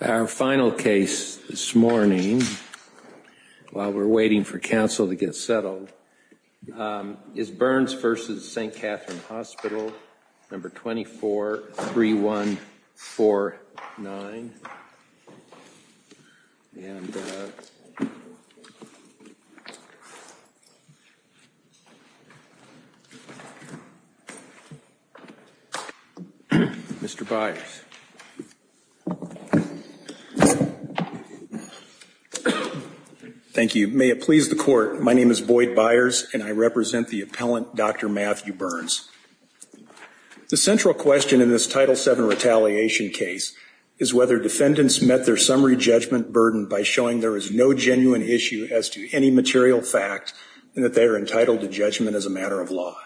Our final case this morning, while we are waiting for counsel to get settled, is Byrnes v. St. Catherine Hospital, No. 243149. Mr. Byrnes. Thank you. May it please the Court, my name is Boyd Byrnes and I represent the appellant, Dr. Matthew Byrnes. The central question in this Title VII retaliation case is whether defendants met their summary judgment burden by showing there is no genuine issue as to any material fact and that they are entitled to judgment as a matter of law.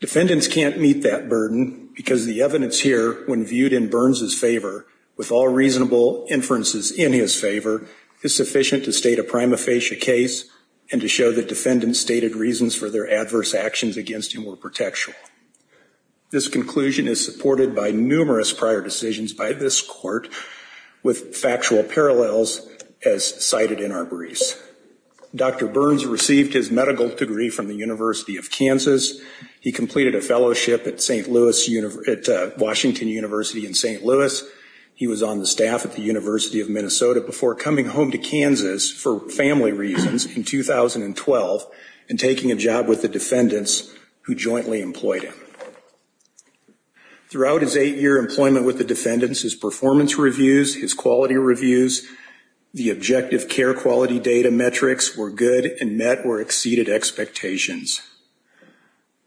Defendants can't meet that burden because the evidence here, when viewed in Byrnes' favor, with all reasonable inferences in his favor, is sufficient to state a prima facie case and to show that defendants stated reasons for their adverse actions against him were protectional. This conclusion is supported by numerous prior decisions by this Court with factual parallels as cited in our briefs. Dr. Byrnes received his medical degree from the University of Kansas. He completed a fellowship at Washington University in St. Louis. He was on the staff at the University of Minnesota before coming home to Kansas for family reasons in 2012 and taking a job with the defendants who jointly employed him. Throughout his 8-year employment with the defendants, his performance reviews, his quality reviews, the objective care quality data metrics were good and met or exceeded expectations.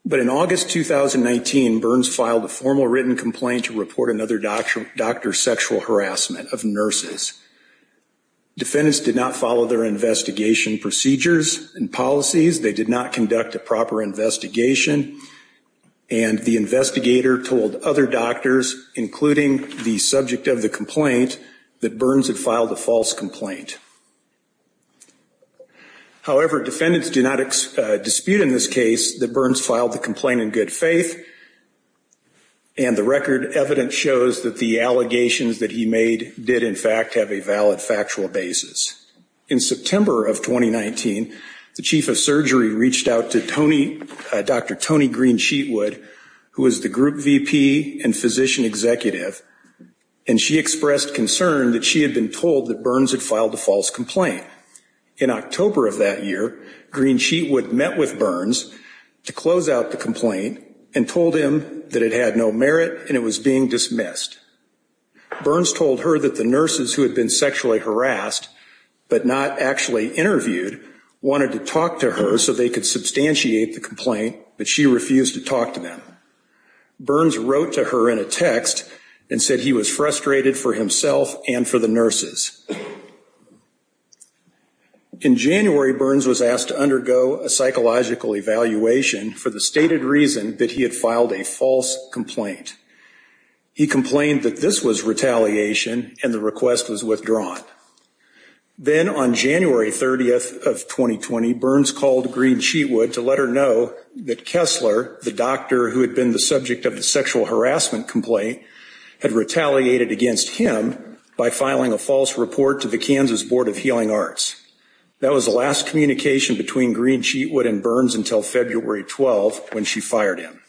But in August 2019, Byrnes filed a formal written complaint to report another doctor's sexual harassment of nurses. Defendants did not follow their investigation procedures and policies. They did not conduct a proper investigation. And the investigator told other doctors, including the subject of the complaint, that Byrnes had filed a false complaint. However, defendants did not dispute in this case that Byrnes filed the complaint in good faith. And the record evidence shows that the allegations that he made did, in fact, have a valid factual basis. In September of 2019, the chief of surgery reached out to Dr. Toni Green-Sheetwood, who was the group VP and physician executive, and she expressed concern that she had been told that Byrnes had filed a false complaint. In October of that year, Green-Sheetwood met with Byrnes to close out the complaint and told him that it had no merit and it was being dismissed. Byrnes told her that the nurses who had been sexually harassed but not actually interviewed wanted to talk to her so they could substantiate the complaint, but she refused to talk to them. Byrnes wrote to her in a text and said he was frustrated for himself and for the nurses. In January, Byrnes was asked to undergo a psychological evaluation for the stated reason that he had filed a false complaint. He complained that this was retaliation and the request was withdrawn. Then on January 30th of 2020, Byrnes called Green-Sheetwood to let her know that Kessler, the doctor who had been the subject of the sexual harassment complaint, had retaliated against him by filing a false report to the Kansas Board of Healing Arts. That was the last communication between Green-Sheetwood and Byrnes until February 12th when she fired him.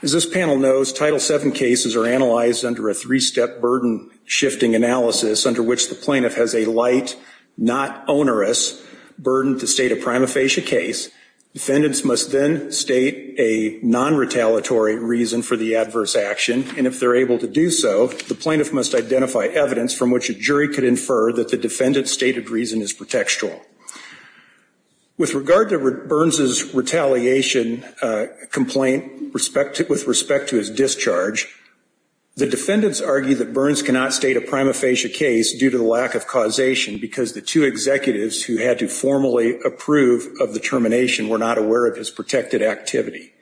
As this panel knows, Title VII cases are analyzed under a three-step burden shifting analysis under which the plaintiff has a light, not onerous burden to state a prima facie case. Defendants must then state a non-retaliatory reason for the adverse action, and if they're able to do so, the plaintiff must identify evidence from which a jury could infer that the defendant's stated reason is pretextual. With regard to Byrnes' retaliation complaint with respect to his discharge, the defendants argue that Byrnes cannot state a prima facie case due to the lack of causation because the two executives who had to formally approve of the termination were not aware of his protected activity.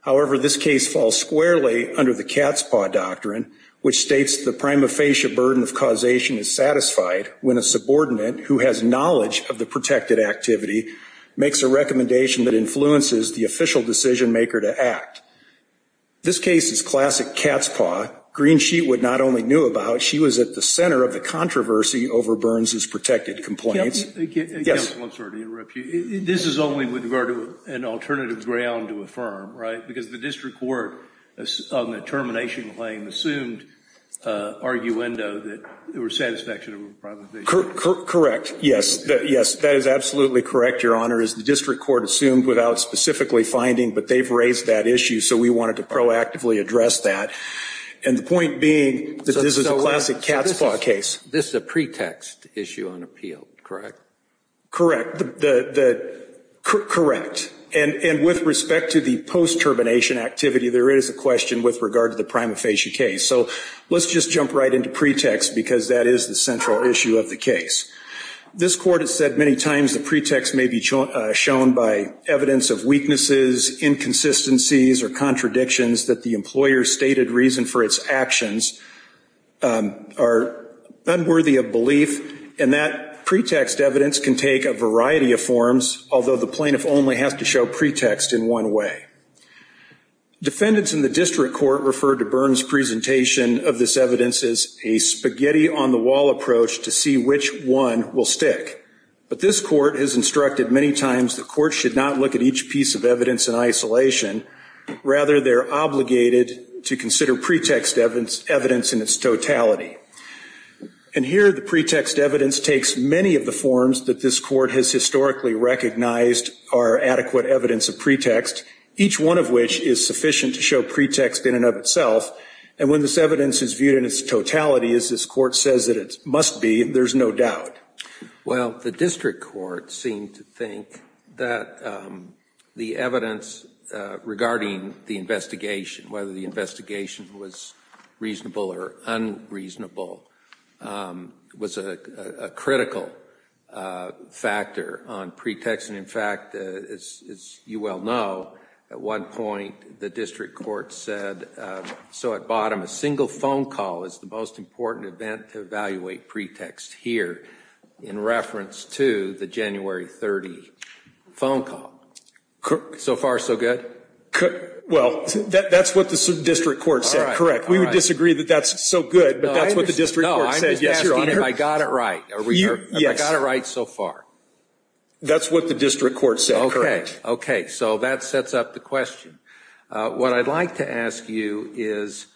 However, this case falls squarely under the cat's paw doctrine, which states the prima facie burden of causation is satisfied when a subordinate who has knowledge of the protected activity makes a recommendation that influences the official decision maker to act. This case is classic cat's paw. Greensheet not only knew about, she was at the center of the controversy over Byrnes' protected complaints. Counsel, I'm sorry to interrupt you. This is only with regard to an alternative ground to affirm, right? Because the district court on the termination claim assumed arguendo that there was satisfaction of a prima facie. Correct, yes. Yes, that is absolutely correct, Your Honor. The district court assumed without specifically finding, but they've raised that issue, so we wanted to proactively address that. And the point being that this is a classic cat's paw case. This is a pretext issue on appeal, correct? Correct. Correct. And with respect to the post-termination activity, there is a question with regard to the prima facie case. So let's just jump right into pretext because that is the central issue of the case. This court has said many times the pretext may be shown by evidence of weaknesses, inconsistencies, or contradictions that the employer's stated reason for its actions are unworthy of belief, and that pretext evidence can take a variety of forms, although the plaintiff only has to show pretext in one way. Defendants in the district court referred to Byrnes' presentation of this evidence as a spaghetti-on-the-wall approach to see which one will stick. But this court has instructed many times the court should not look at each piece of evidence in isolation. Rather, they're obligated to consider pretext evidence in its totality. And here the pretext evidence takes many of the forms that this court has historically recognized are adequate evidence of pretext, each one of which is sufficient to show pretext in and of itself. And when this evidence is viewed in its totality, as this court says that it must be, there's no doubt. Well, the district court seemed to think that the evidence regarding the investigation, whether the investigation was reasonable or unreasonable, was a critical factor on pretext. And in fact, as you well know, at one point the district court said, so at bottom, a single phone call is the most important event to evaluate pretext here, in reference to the January 30 phone call. So far, so good? Well, that's what the district court said, correct. We would disagree that that's so good, but that's what the district court said. No, I'm just asking if I got it right. Yes. Have I got it right so far? That's what the district court said, correct. Okay, okay. So that sets up the question. What I'd like to ask you is,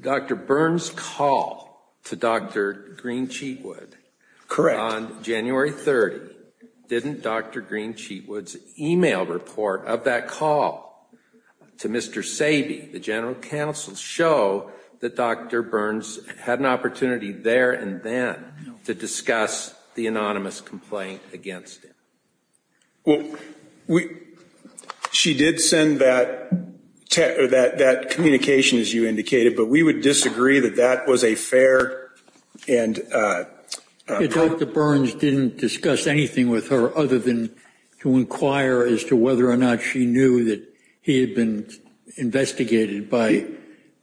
Dr. Burns' call to Dr. Green-Cheatwood. Correct. On January 30, didn't Dr. Green-Cheatwood's e-mail report of that call to Mr. Sabe, the general counsel, show that Dr. Burns had an opportunity there and then to discuss the anonymous complaint against him? Well, she did send that communication, as you indicated, but we would disagree that that was a fair and— Dr. Burns didn't discuss anything with her other than to inquire as to whether or not she knew that he had been investigated by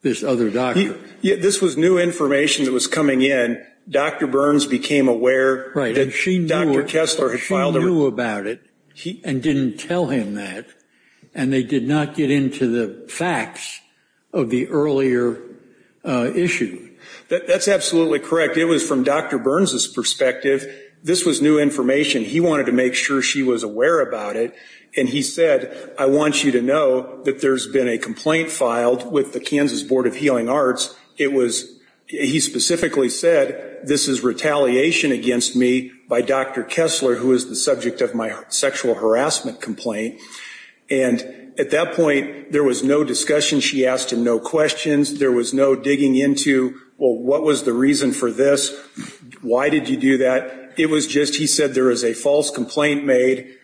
this other doctor. This was new information that was coming in. Dr. Burns became aware that Dr. Kessler had filed a report. Right, and she knew about it and didn't tell him that, and they did not get into the facts of the earlier issue. That's absolutely correct. It was from Dr. Burns' perspective. This was new information. He wanted to make sure she was aware about it, and he said, I want you to know that there's been a complaint filed with the Kansas Board of Healing Arts. It was—he specifically said, this is retaliation against me by Dr. Kessler, who is the subject of my sexual harassment complaint. And at that point, there was no discussion. She asked him no questions. There was no digging into, well, what was the reason for this? Why did you do that? It was just he said there is a false complaint made.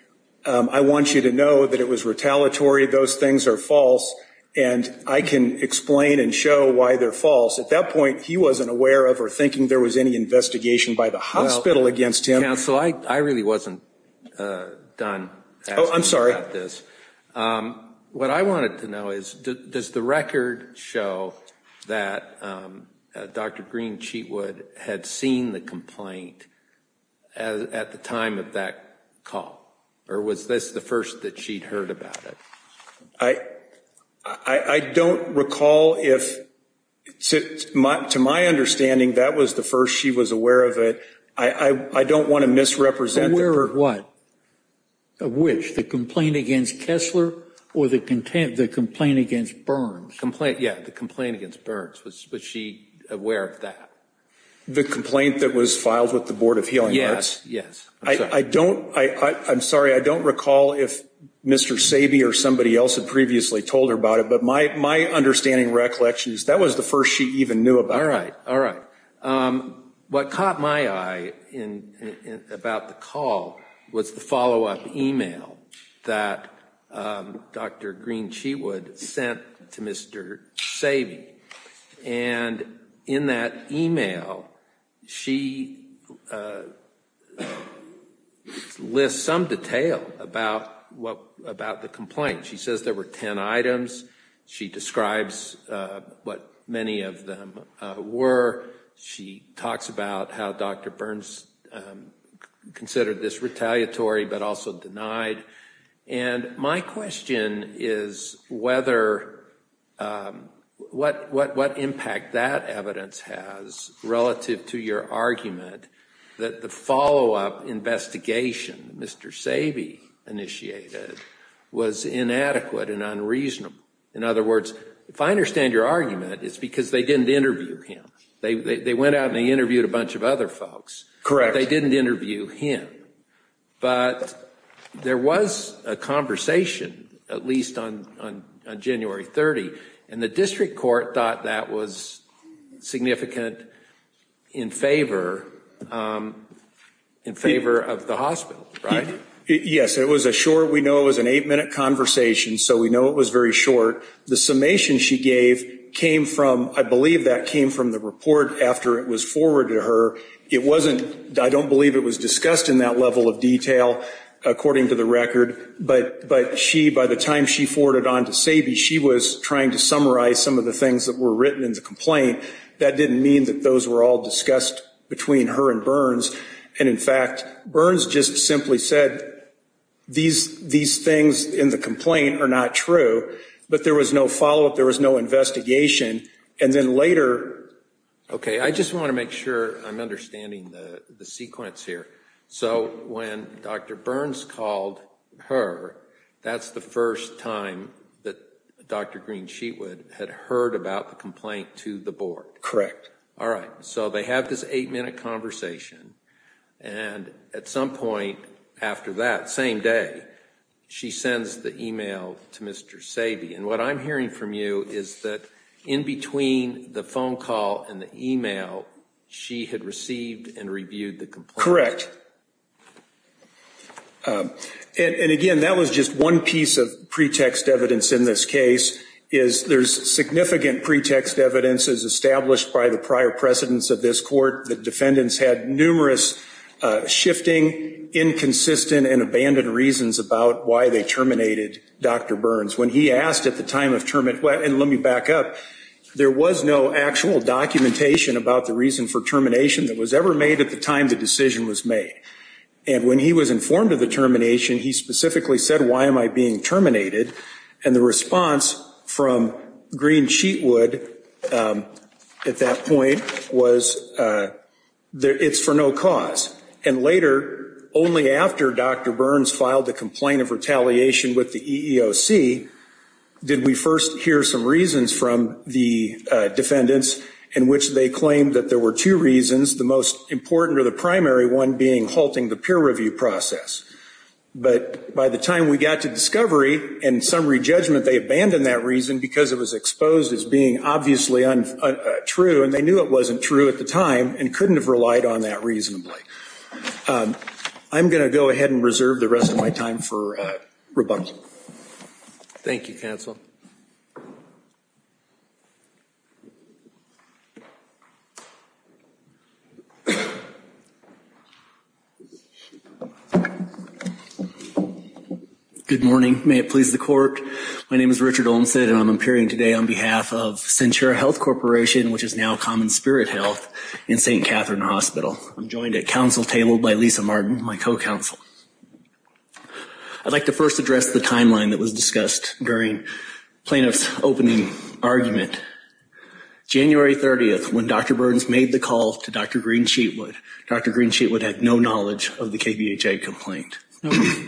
I want you to know that it was retaliatory. Those things are false, and I can explain and show why they're false. At that point, he wasn't aware of or thinking there was any investigation by the hospital against him. Counsel, I really wasn't done asking about this. What I wanted to know is, does the record show that Dr. Green-Cheatwood had seen the complaint at the time of that call? Or was this the first that she'd heard about it? I don't recall if—to my understanding, that was the first she was aware of it. I don't want to misrepresent— Aware of what? Of which? The complaint against Kessler or the complaint against Burns? Yeah, the complaint against Burns. Was she aware of that? The complaint that was filed with the Board of Healing Arts? Yes, yes. I'm sorry, I don't recall if Mr. Sabe or somebody else had previously told her about it, but my understanding and recollection is that was the first she even knew about it. All right, all right. What caught my eye about the call was the follow-up email that Dr. Green-Cheatwood sent to Mr. Sabe. And in that email, she lists some detail about the complaint. She says there were 10 items. She describes what many of them were. She talks about how Dr. Burns considered this retaliatory but also denied. And my question is whether—what impact that evidence has relative to your argument that the follow-up investigation Mr. Sabe initiated was inadequate and unreasonable. In other words, if I understand your argument, it's because they didn't interview him. They went out and they interviewed a bunch of other folks. Correct. They didn't interview him. But there was a conversation, at least on January 30, and the district court thought that was significant in favor of the hospital, right? Yes, it was a short—we know it was an eight-minute conversation, so we know it was very short. The summation she gave came from—I believe that came from the report after it was forwarded to her. It wasn't—I don't believe it was discussed in that level of detail, according to the record. But by the time she forwarded it on to Sabe, she was trying to summarize some of the things that were written in the complaint. That didn't mean that those were all discussed between her and Burns. And, in fact, Burns just simply said these things in the complaint are not true, but there was no follow-up, there was no investigation. And then later— Okay, I just want to make sure I'm understanding the sequence here. So when Dr. Burns called her, that's the first time that Dr. Green-Sheetwood had heard about the complaint to the board. Correct. All right, so they have this eight-minute conversation. And at some point after that, same day, she sends the email to Mr. Sabe. And what I'm hearing from you is that in between the phone call and the email, she had received and reviewed the complaint. Correct. And, again, that was just one piece of pretext evidence in this case, is there's significant pretext evidence as established by the prior precedents of this court. The defendants had numerous shifting, inconsistent, and abandoned reasons about why they terminated Dr. Burns. When he asked at the time of termination—and let me back up. There was no actual documentation about the reason for termination that was ever made at the time the decision was made. And when he was informed of the termination, he specifically said, why am I being terminated? And the response from Green-Sheetwood at that point was, it's for no cause. And later, only after Dr. Burns filed the complaint of retaliation with the EEOC, did we first hear some reasons from the defendants in which they claimed that there were two reasons, the most important or the primary one being halting the peer review process. But by the time we got to discovery and summary judgment, they abandoned that reason because it was exposed as being obviously untrue, and they knew it wasn't true at the time and couldn't have relied on that reasonably. I'm going to go ahead and reserve the rest of my time for rebuttal. Thank you, counsel. Good morning. May it please the court. My name is Richard Olmsted, and I'm appearing today on behalf of Centura Health Corporation, which is now Common Spirit Health, in St. Catherine Hospital. I'm joined at council table by Lisa Martin, my co-counsel. I'd like to first address the timeline that was discussed during plaintiff's opening argument. January 30th, when Dr. Burns made the call to Dr. Green-Sheetwood, Dr. Green-Sheetwood had no knowledge of the KBHA complaint.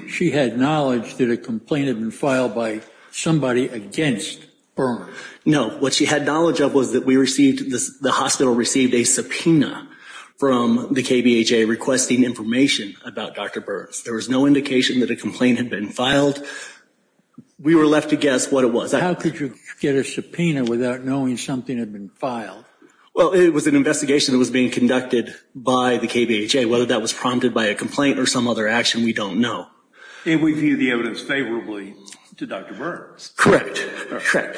She had knowledge that a complaint had been filed by somebody against Burns. No. What she had knowledge of was that we received, the hospital received, a subpoena from the KBHA requesting information about Dr. Burns. There was no indication that a complaint had been filed. We were left to guess what it was. How could you get a subpoena without knowing something had been filed? Well, it was an investigation that was being conducted by the KBHA. Whether that was prompted by a complaint or some other action, we don't know. And we view the evidence favorably to Dr. Burns. Correct. Correct.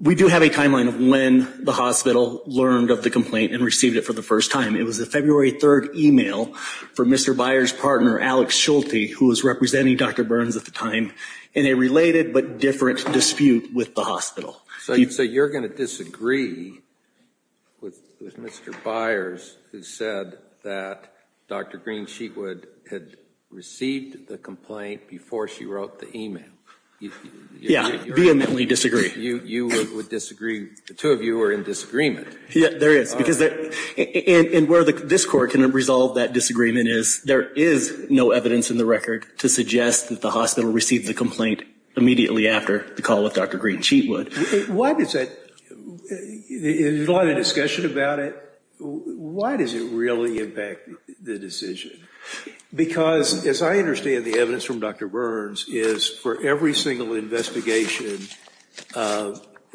We do have a timeline of when the hospital learned of the complaint and received it for the first time. It was a February 3rd email from Mr. Byers' partner, Alex Schulte, who was representing Dr. Burns at the time, in a related but different dispute with the hospital. So you're going to disagree with Mr. Byers, who said that Dr. Green-Sheetwood had received the complaint before she wrote the email? Yeah. Vehemently disagree. You would disagree. The two of you are in disagreement. Yeah, there is. Because where this court can resolve that disagreement is, there is no evidence in the record to suggest that the hospital received the complaint immediately after the call with Dr. Green-Sheetwood. Why does that, in light of the discussion about it, why does it really impact the decision? Because, as I understand the evidence from Dr. Burns, is for every single investigation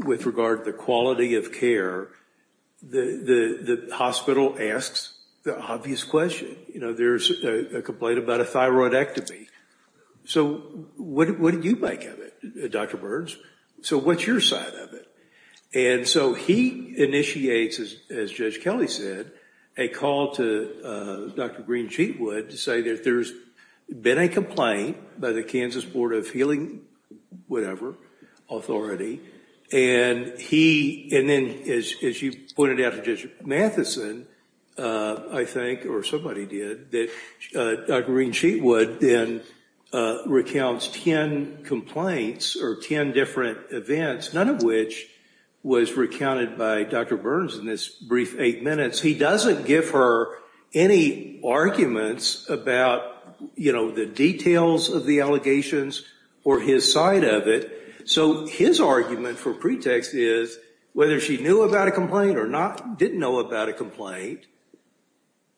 with regard to the quality of care, the hospital asks the obvious question. You know, there's a complaint about a thyroidectomy. So what do you make of it, Dr. Burns? So what's your side of it? And so he initiates, as Judge Kelly said, a call to Dr. Green-Sheetwood to say that there's been a complaint by the Kansas Board of Healing, whatever, Authority, and then, as you pointed out to Judge Matheson, I think, or somebody did, that Dr. Green-Sheetwood then recounts 10 complaints or 10 different events, none of which was recounted by Dr. Burns in this brief eight minutes. He doesn't give her any arguments about, you know, the details of the allegations or his side of it. So his argument for pretext is, whether she knew about a complaint or not, didn't know about a complaint,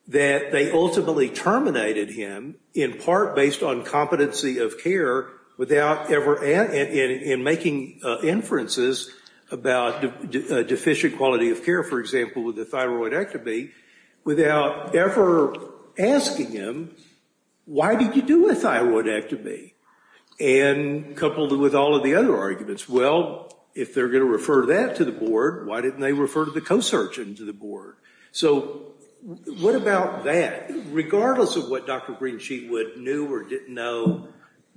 that they ultimately terminated him, in part based on competency of care, without ever in making inferences about deficient quality of care, for example, with a thyroidectomy, without ever asking him, why did you do a thyroidectomy? And coupled with all of the other arguments, well, if they're going to refer that to the board, why didn't they refer to the co-surgeon to the board? So what about that? Regardless of what Dr. Green-Sheetwood knew or didn't know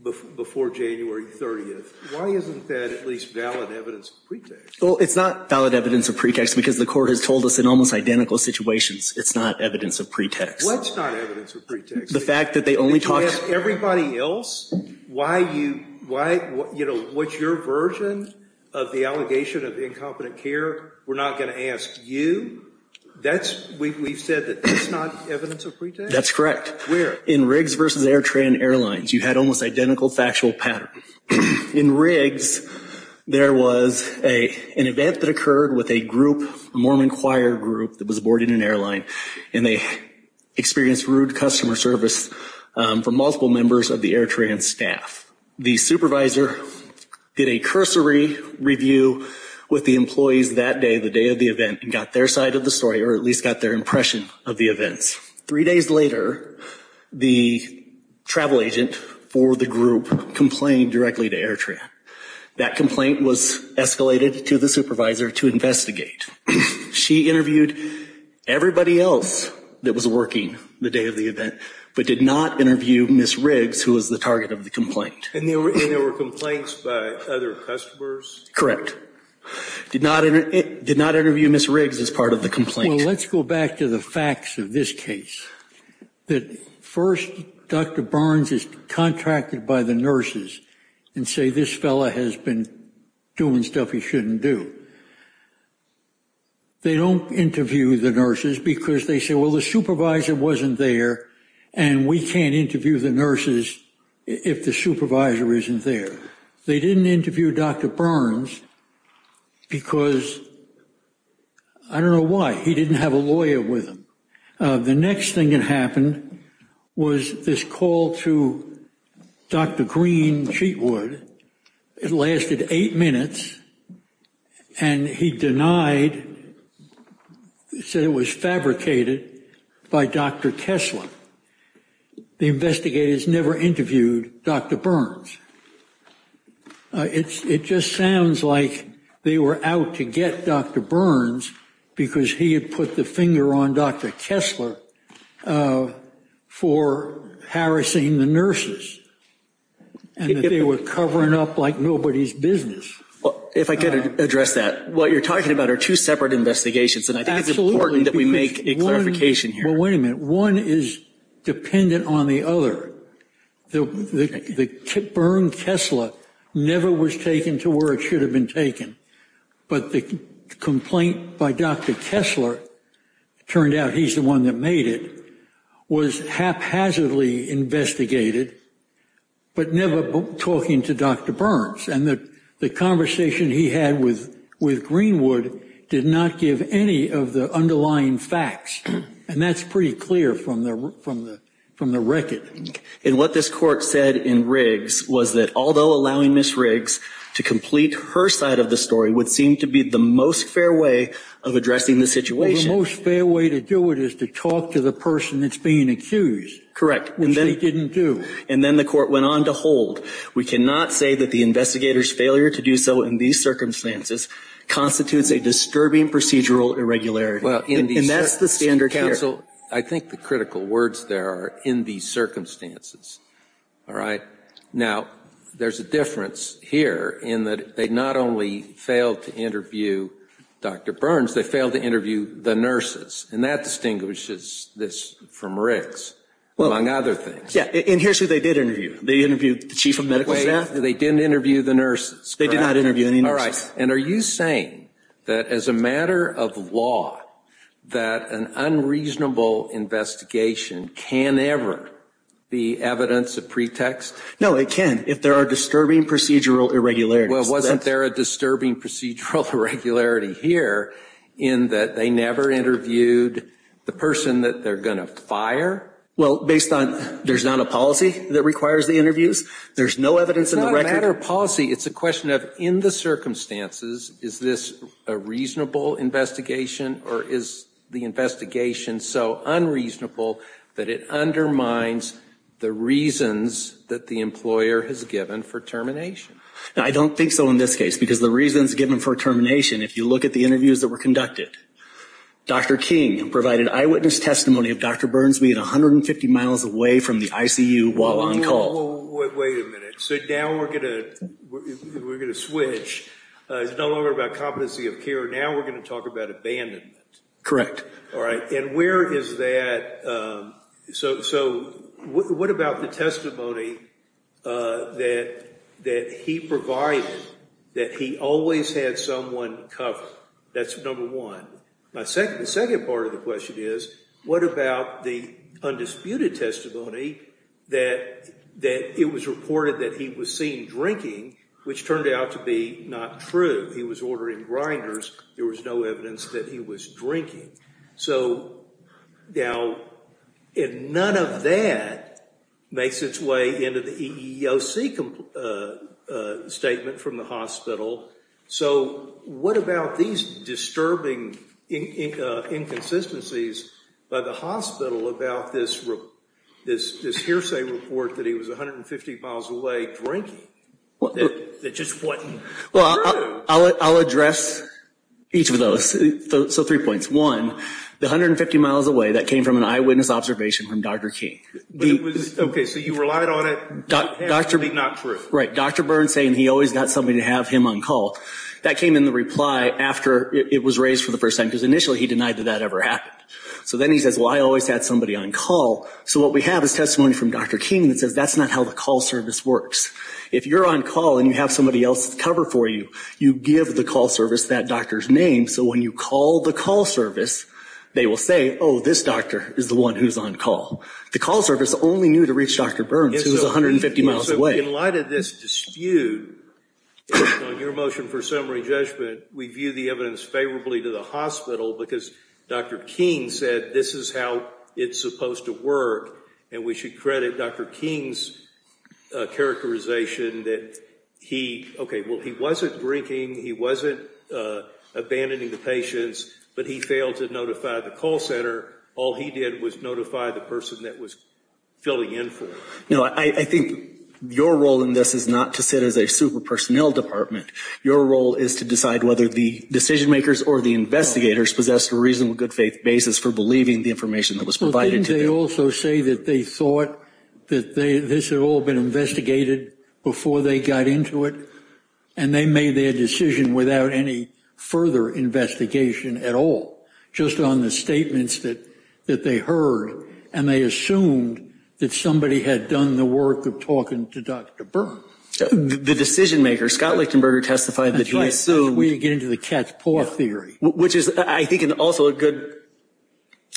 before January 30th, why isn't that at least valid evidence of pretext? Well, it's not valid evidence of pretext because the Court has told us in almost identical situations it's not evidence of pretext. What's not evidence of pretext? The fact that they only talked to… Everybody else, what's your version of the allegation of incompetent care? We're not going to ask you. We've said that that's not evidence of pretext? That's correct. Where? In Riggs versus AirTran Airlines, you had almost identical factual patterns. In Riggs, there was an event that occurred with a group, a Mormon choir group, that was boarding an airline, and they experienced rude customer service from multiple members of the AirTran staff. The supervisor did a cursory review with the employees that day, the day of the event, and got their side of the story, or at least got their impression of the events. Three days later, the travel agent for the group complained directly to AirTran. That complaint was escalated to the supervisor to investigate. She interviewed everybody else that was working the day of the event, but did not interview Ms. Riggs, who was the target of the complaint. And there were complaints by other customers? Correct. Did not interview Ms. Riggs as part of the complaint. Well, let's go back to the facts of this case. First, Dr. Burns is contracted by the nurses and say, this fellow has been doing stuff he shouldn't do. They don't interview the nurses because they say, well, the supervisor wasn't there, and we can't interview the nurses if the supervisor isn't there. They didn't interview Dr. Burns because I don't know why. He didn't have a lawyer with him. The next thing that happened was this call to Dr. Green-Cheatwood. It lasted eight minutes, and he denied, said it was fabricated by Dr. Tesla. The investigators never interviewed Dr. Burns. It just sounds like they were out to get Dr. Burns because he had put the finger on Dr. Kessler for harassing the nurses and that they were covering up like nobody's business. If I could address that. What you're talking about are two separate investigations, and I think it's important that we make a clarification here. Well, wait a minute. One is dependent on the other. Bern Kessler never was taken to where it should have been taken, but the complaint by Dr. Kessler, it turned out he's the one that made it, was haphazardly investigated but never talking to Dr. Burns, and the conversation he had with Greenwood did not give any of the underlying facts, and that's pretty clear from the record. And what this court said in Riggs was that although allowing Ms. Riggs to complete her side of the story would seem to be the most fair way of addressing the situation. Well, the most fair way to do it is to talk to the person that's being accused. Correct. Which they didn't do. And then the court went on to hold, we cannot say that the investigator's failure to do so in these circumstances constitutes a disturbing procedural irregularity. And that's the standard here. Counsel, I think the critical words there are in these circumstances. All right? Now, there's a difference here in that they not only failed to interview Dr. Burns, they failed to interview the nurses, and that distinguishes this from Riggs, among other things. Yeah, and here's who they did interview. They interviewed the chief of medical staff. They didn't interview the nurses. They did not interview any nurses. All right, and are you saying that as a matter of law, that an unreasonable investigation can ever be evidence of pretext? No, it can if there are disturbing procedural irregularities. Well, wasn't there a disturbing procedural irregularity here in that they never interviewed the person that they're going to fire? Well, based on there's not a policy that requires the interviews? There's no evidence in the record? As a matter of policy, it's a question of in the circumstances, is this a reasonable investigation or is the investigation so unreasonable that it undermines the reasons that the employer has given for termination? I don't think so in this case because the reasons given for termination, if you look at the interviews that were conducted, Dr. King provided eyewitness testimony of Dr. Burns being 150 miles away from the ICU while on call. Wait a minute. So now we're going to switch. It's no longer about competency of care. Now we're going to talk about abandonment. All right, and where is that? So what about the testimony that he provided that he always had someone cover? That's number one. The second part of the question is what about the undisputed testimony that it was reported that he was seen drinking, which turned out to be not true. He was ordering grinders. There was no evidence that he was drinking. So now none of that makes its way into the EEOC statement from the hospital. So what about these disturbing inconsistencies by the hospital about this hearsay report that he was 150 miles away drinking, that just wasn't true? Well, I'll address each of those. So three points. One, the 150 miles away, that came from an eyewitness observation from Dr. King. Okay, so you relied on it. That's really not true. Right, Dr. Burns saying he always got somebody to have him on call. That came in the reply after it was raised for the first time because initially he denied that that ever happened. So then he says, well, I always had somebody on call. So what we have is testimony from Dr. King that says that's not how the call service works. If you're on call and you have somebody else cover for you, you give the call service that doctor's name. So when you call the call service, they will say, oh, this doctor is the one who's on call. The call service only knew to reach Dr. Burns, who was 150 miles away. In light of this dispute, on your motion for summary judgment, we view the evidence favorably to the hospital because Dr. King said this is how it's supposed to work, and we should credit Dr. King's characterization that he wasn't drinking, he wasn't abandoning the patients, but he failed to notify the call center. All he did was notify the person that was filling in for him. No, I think your role in this is not to sit as a super personnel department. Your role is to decide whether the decision makers or the investigators possessed a reasonable good faith basis for believing the information that was provided to them. Well, didn't they also say that they thought that this had all been investigated before they got into it, and they made their decision without any further investigation at all, just on the statements that they heard, and they assumed that somebody had done the work of talking to Dr. Burns? The decision maker, Scott Lichtenberger, testified that he assumed. That's where you get into the cat's paw theory. Which is, I think, also a good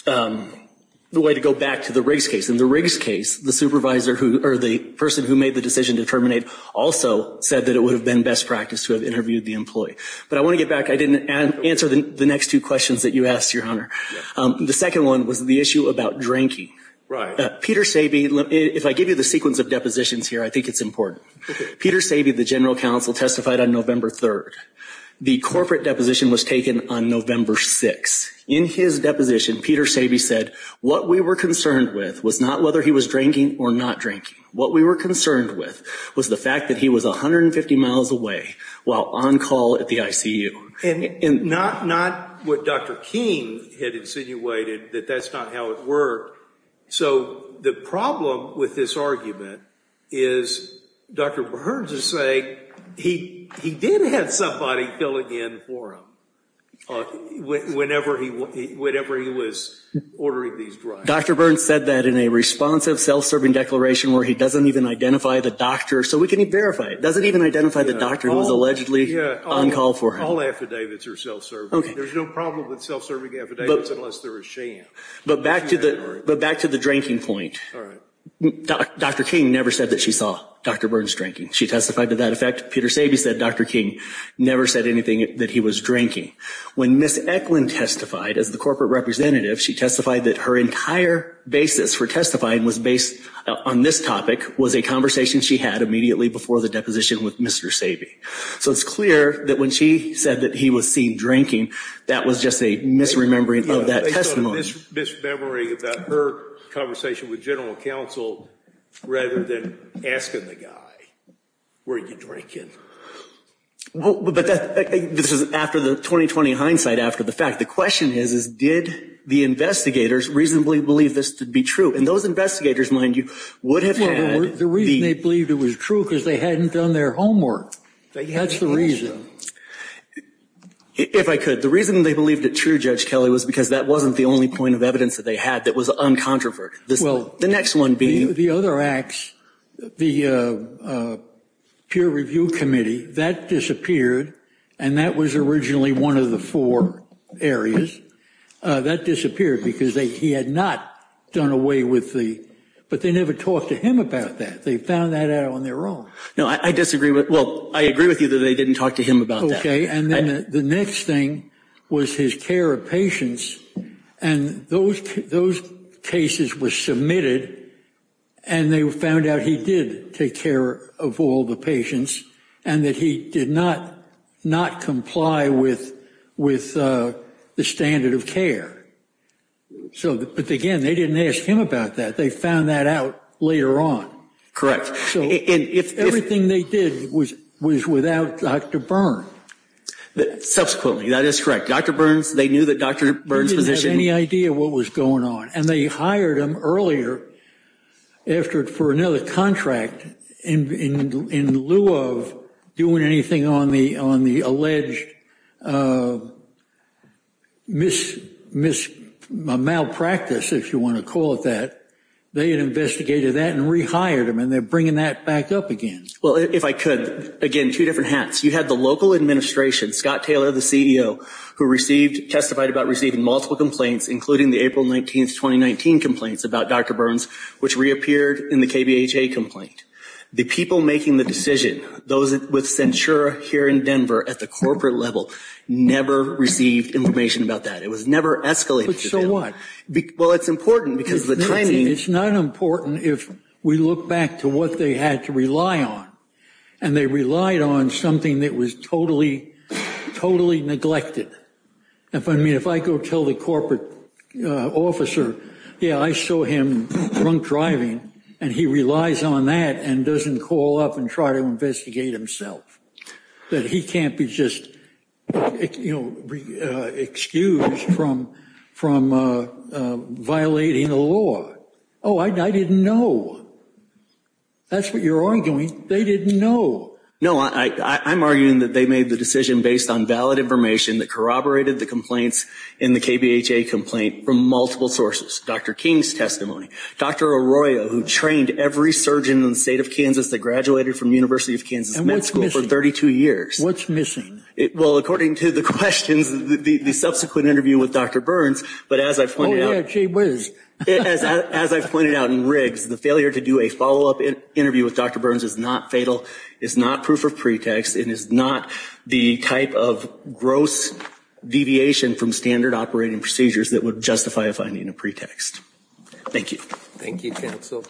way to go back to the Riggs case. In the Riggs case, the supervisor, or the person who made the decision to terminate, also said that it would have been best practice to have interviewed the employee. But I want to get back. I didn't answer the next two questions that you asked, Your Honor. The second one was the issue about drinking. Peter Sabe, if I give you the sequence of depositions here, I think it's important. Peter Sabe, the general counsel, testified on November 3rd. The corporate deposition was taken on November 6th. In his deposition, Peter Sabe said, what we were concerned with was not whether he was drinking or not drinking. What we were concerned with was the fact that he was 150 miles away while on call at the ICU. And not what Dr. King had insinuated, that that's not how it worked. So the problem with this argument is, Dr. Burns is saying, he did have somebody filling in for him whenever he was ordering these drinks. Dr. Burns said that in a responsive self-serving declaration where he doesn't even identify the doctor. So we can verify it. Doesn't even identify the doctor who was allegedly on call for him. All affidavits are self-serving. There's no problem with self-serving affidavits unless there is sham. But back to the drinking point. Dr. King never said that she saw Dr. Burns drinking. She testified to that effect. Peter Sabe said Dr. King never said anything that he was drinking. When Ms. Eklund testified as the corporate representative, she testified that her entire basis for testifying was based on this topic, was a conversation she had immediately before the deposition with Mr. Sabe. So it's clear that when she said that he was seen drinking, that was just a misremembering of that testimony. It's a misremembering about her conversation with general counsel rather than asking the guy, were you drinking? This is after the 2020 hindsight after the fact. The question is, is did the investigators reasonably believe this to be true? And those investigators, mind you, would have had the. The reason they believed it was true because they hadn't done their homework. That's the reason. If I could, the reason they believed it true, Judge Kelly, was because that wasn't the only point of evidence that they had that was uncontroverted. The next one being. The other acts, the peer review committee, that disappeared, and that was originally one of the four areas that disappeared because he had not done away with the. But they never talked to him about that. They found that out on their own. No, I disagree. Well, I agree with you that they didn't talk to him about. OK. And then the next thing was his care of patients. And those those cases were submitted. And they found out he did take care of all the patients and that he did not not comply with with the standard of care. So again, they didn't ask him about that. They found that out later on. If everything they did was was without Dr. Byrne. Subsequently, that is correct. Dr. Burns. They knew that Dr. Burns position. Any idea what was going on? And they hired him earlier after it for another contract. And in lieu of doing anything on the on the alleged Miss Miss malpractice, if you want to call it that, they had investigated that and rehired him. And they're bringing that back up again. Well, if I could, again, two different hats. You had the local administration, Scott Taylor, the CEO, who received testified about receiving multiple complaints, including the April 19th, 2019 complaints about Dr. Burns, which reappeared in the KBHA complaint. The people making the decision, those with censure here in Denver at the corporate level, never received information about that. It was never escalated. So what? Well, it's important because the timing. It's not important. We look back to what they had to rely on and they relied on something that was totally, totally neglected. If I mean, if I go tell the corporate officer, yeah, I saw him drunk driving and he relies on that and doesn't call up and try to investigate himself, that he can't be just, you know, excused from from violating the law. Oh, I didn't know. That's what you're arguing. They didn't know. No, I'm arguing that they made the decision based on valid information that corroborated the complaints in the KBHA complaint from multiple sources. Dr. King's testimony. Dr. Arroyo, who trained every surgeon in the state of Kansas that graduated from University of Kansas Med School for 32 years. What's missing? Well, according to the questions, the subsequent interview with Dr. Burns, but as I pointed out. Oh, yeah, gee whiz. As I pointed out in Riggs, the failure to do a follow up interview with Dr. Burns is not fatal, is not proof of pretext, and is not the type of gross deviation from standard operating procedures that would justify finding a pretext. Thank you. Thank you, counsel.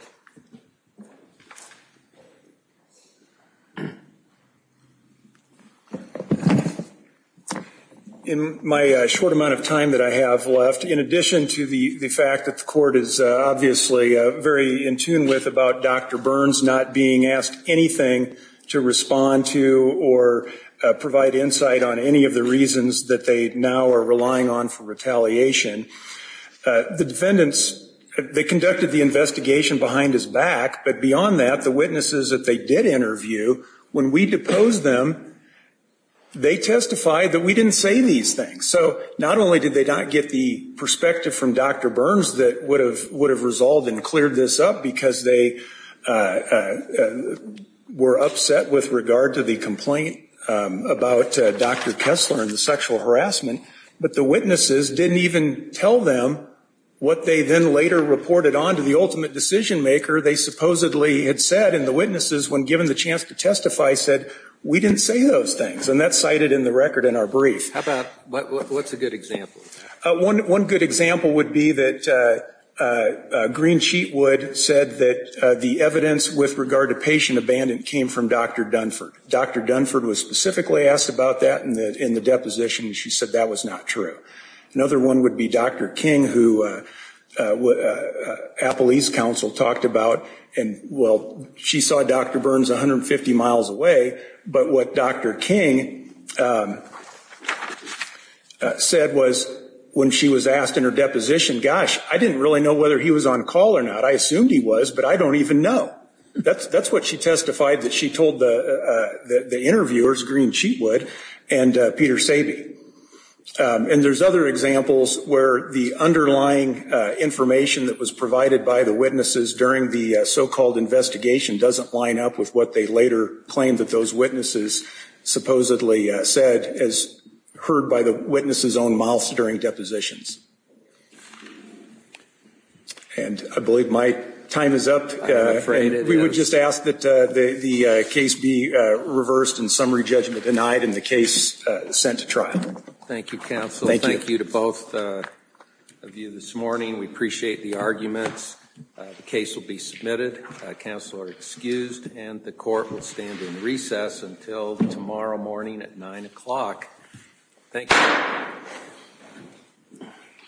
In my short amount of time that I have left, in addition to the fact that the court is obviously very in tune with about Dr. Burns not being asked anything to respond to or provide insight on any of the reasons that they now are relying on for retaliation, the defendants, they conducted the investigation behind his back. But beyond that, the witnesses that they did interview, when we deposed them, they testified that we didn't say these things. So not only did they not get the perspective from Dr. Burns that would have resolved and cleared this up because they were upset with regard to the complaint about Dr. Kessler and the sexual harassment, but the witnesses didn't even tell them what they then later reported on to the ultimate decision maker. They supposedly had said, and the witnesses, when given the chance to testify, said, we didn't say those things. And that's cited in the record in our brief. How about, what's a good example? One good example would be that Green Sheetwood said that the evidence with regard to patient abandonment came from Dr. Dunford. Dr. Dunford was specifically asked about that in the deposition, and she said that was not true. Another one would be Dr. King, who Apple East Council talked about, and, well, she saw Dr. Burns 150 miles away, but what Dr. King said was when she was asked in her deposition, gosh, I didn't really know whether he was on call or not. I assumed he was, but I don't even know. That's what she testified that she told the interviewers, Green Sheetwood and Peter Sabe. And there's other examples where the underlying information that was provided by the witnesses during the so-called investigation doesn't line up with what they later claimed that those witnesses supposedly said, as heard by the witnesses' own mouth during depositions. And I believe my time is up. I'm afraid it is. We would just ask that the case be reversed and summary judgment denied and the case sent to trial. Thank you, counsel. Thank you to both of you this morning. We appreciate the arguments. The case will be submitted. Counsel are excused, and the court will stand in recess until tomorrow morning at 9 o'clock. Thank you.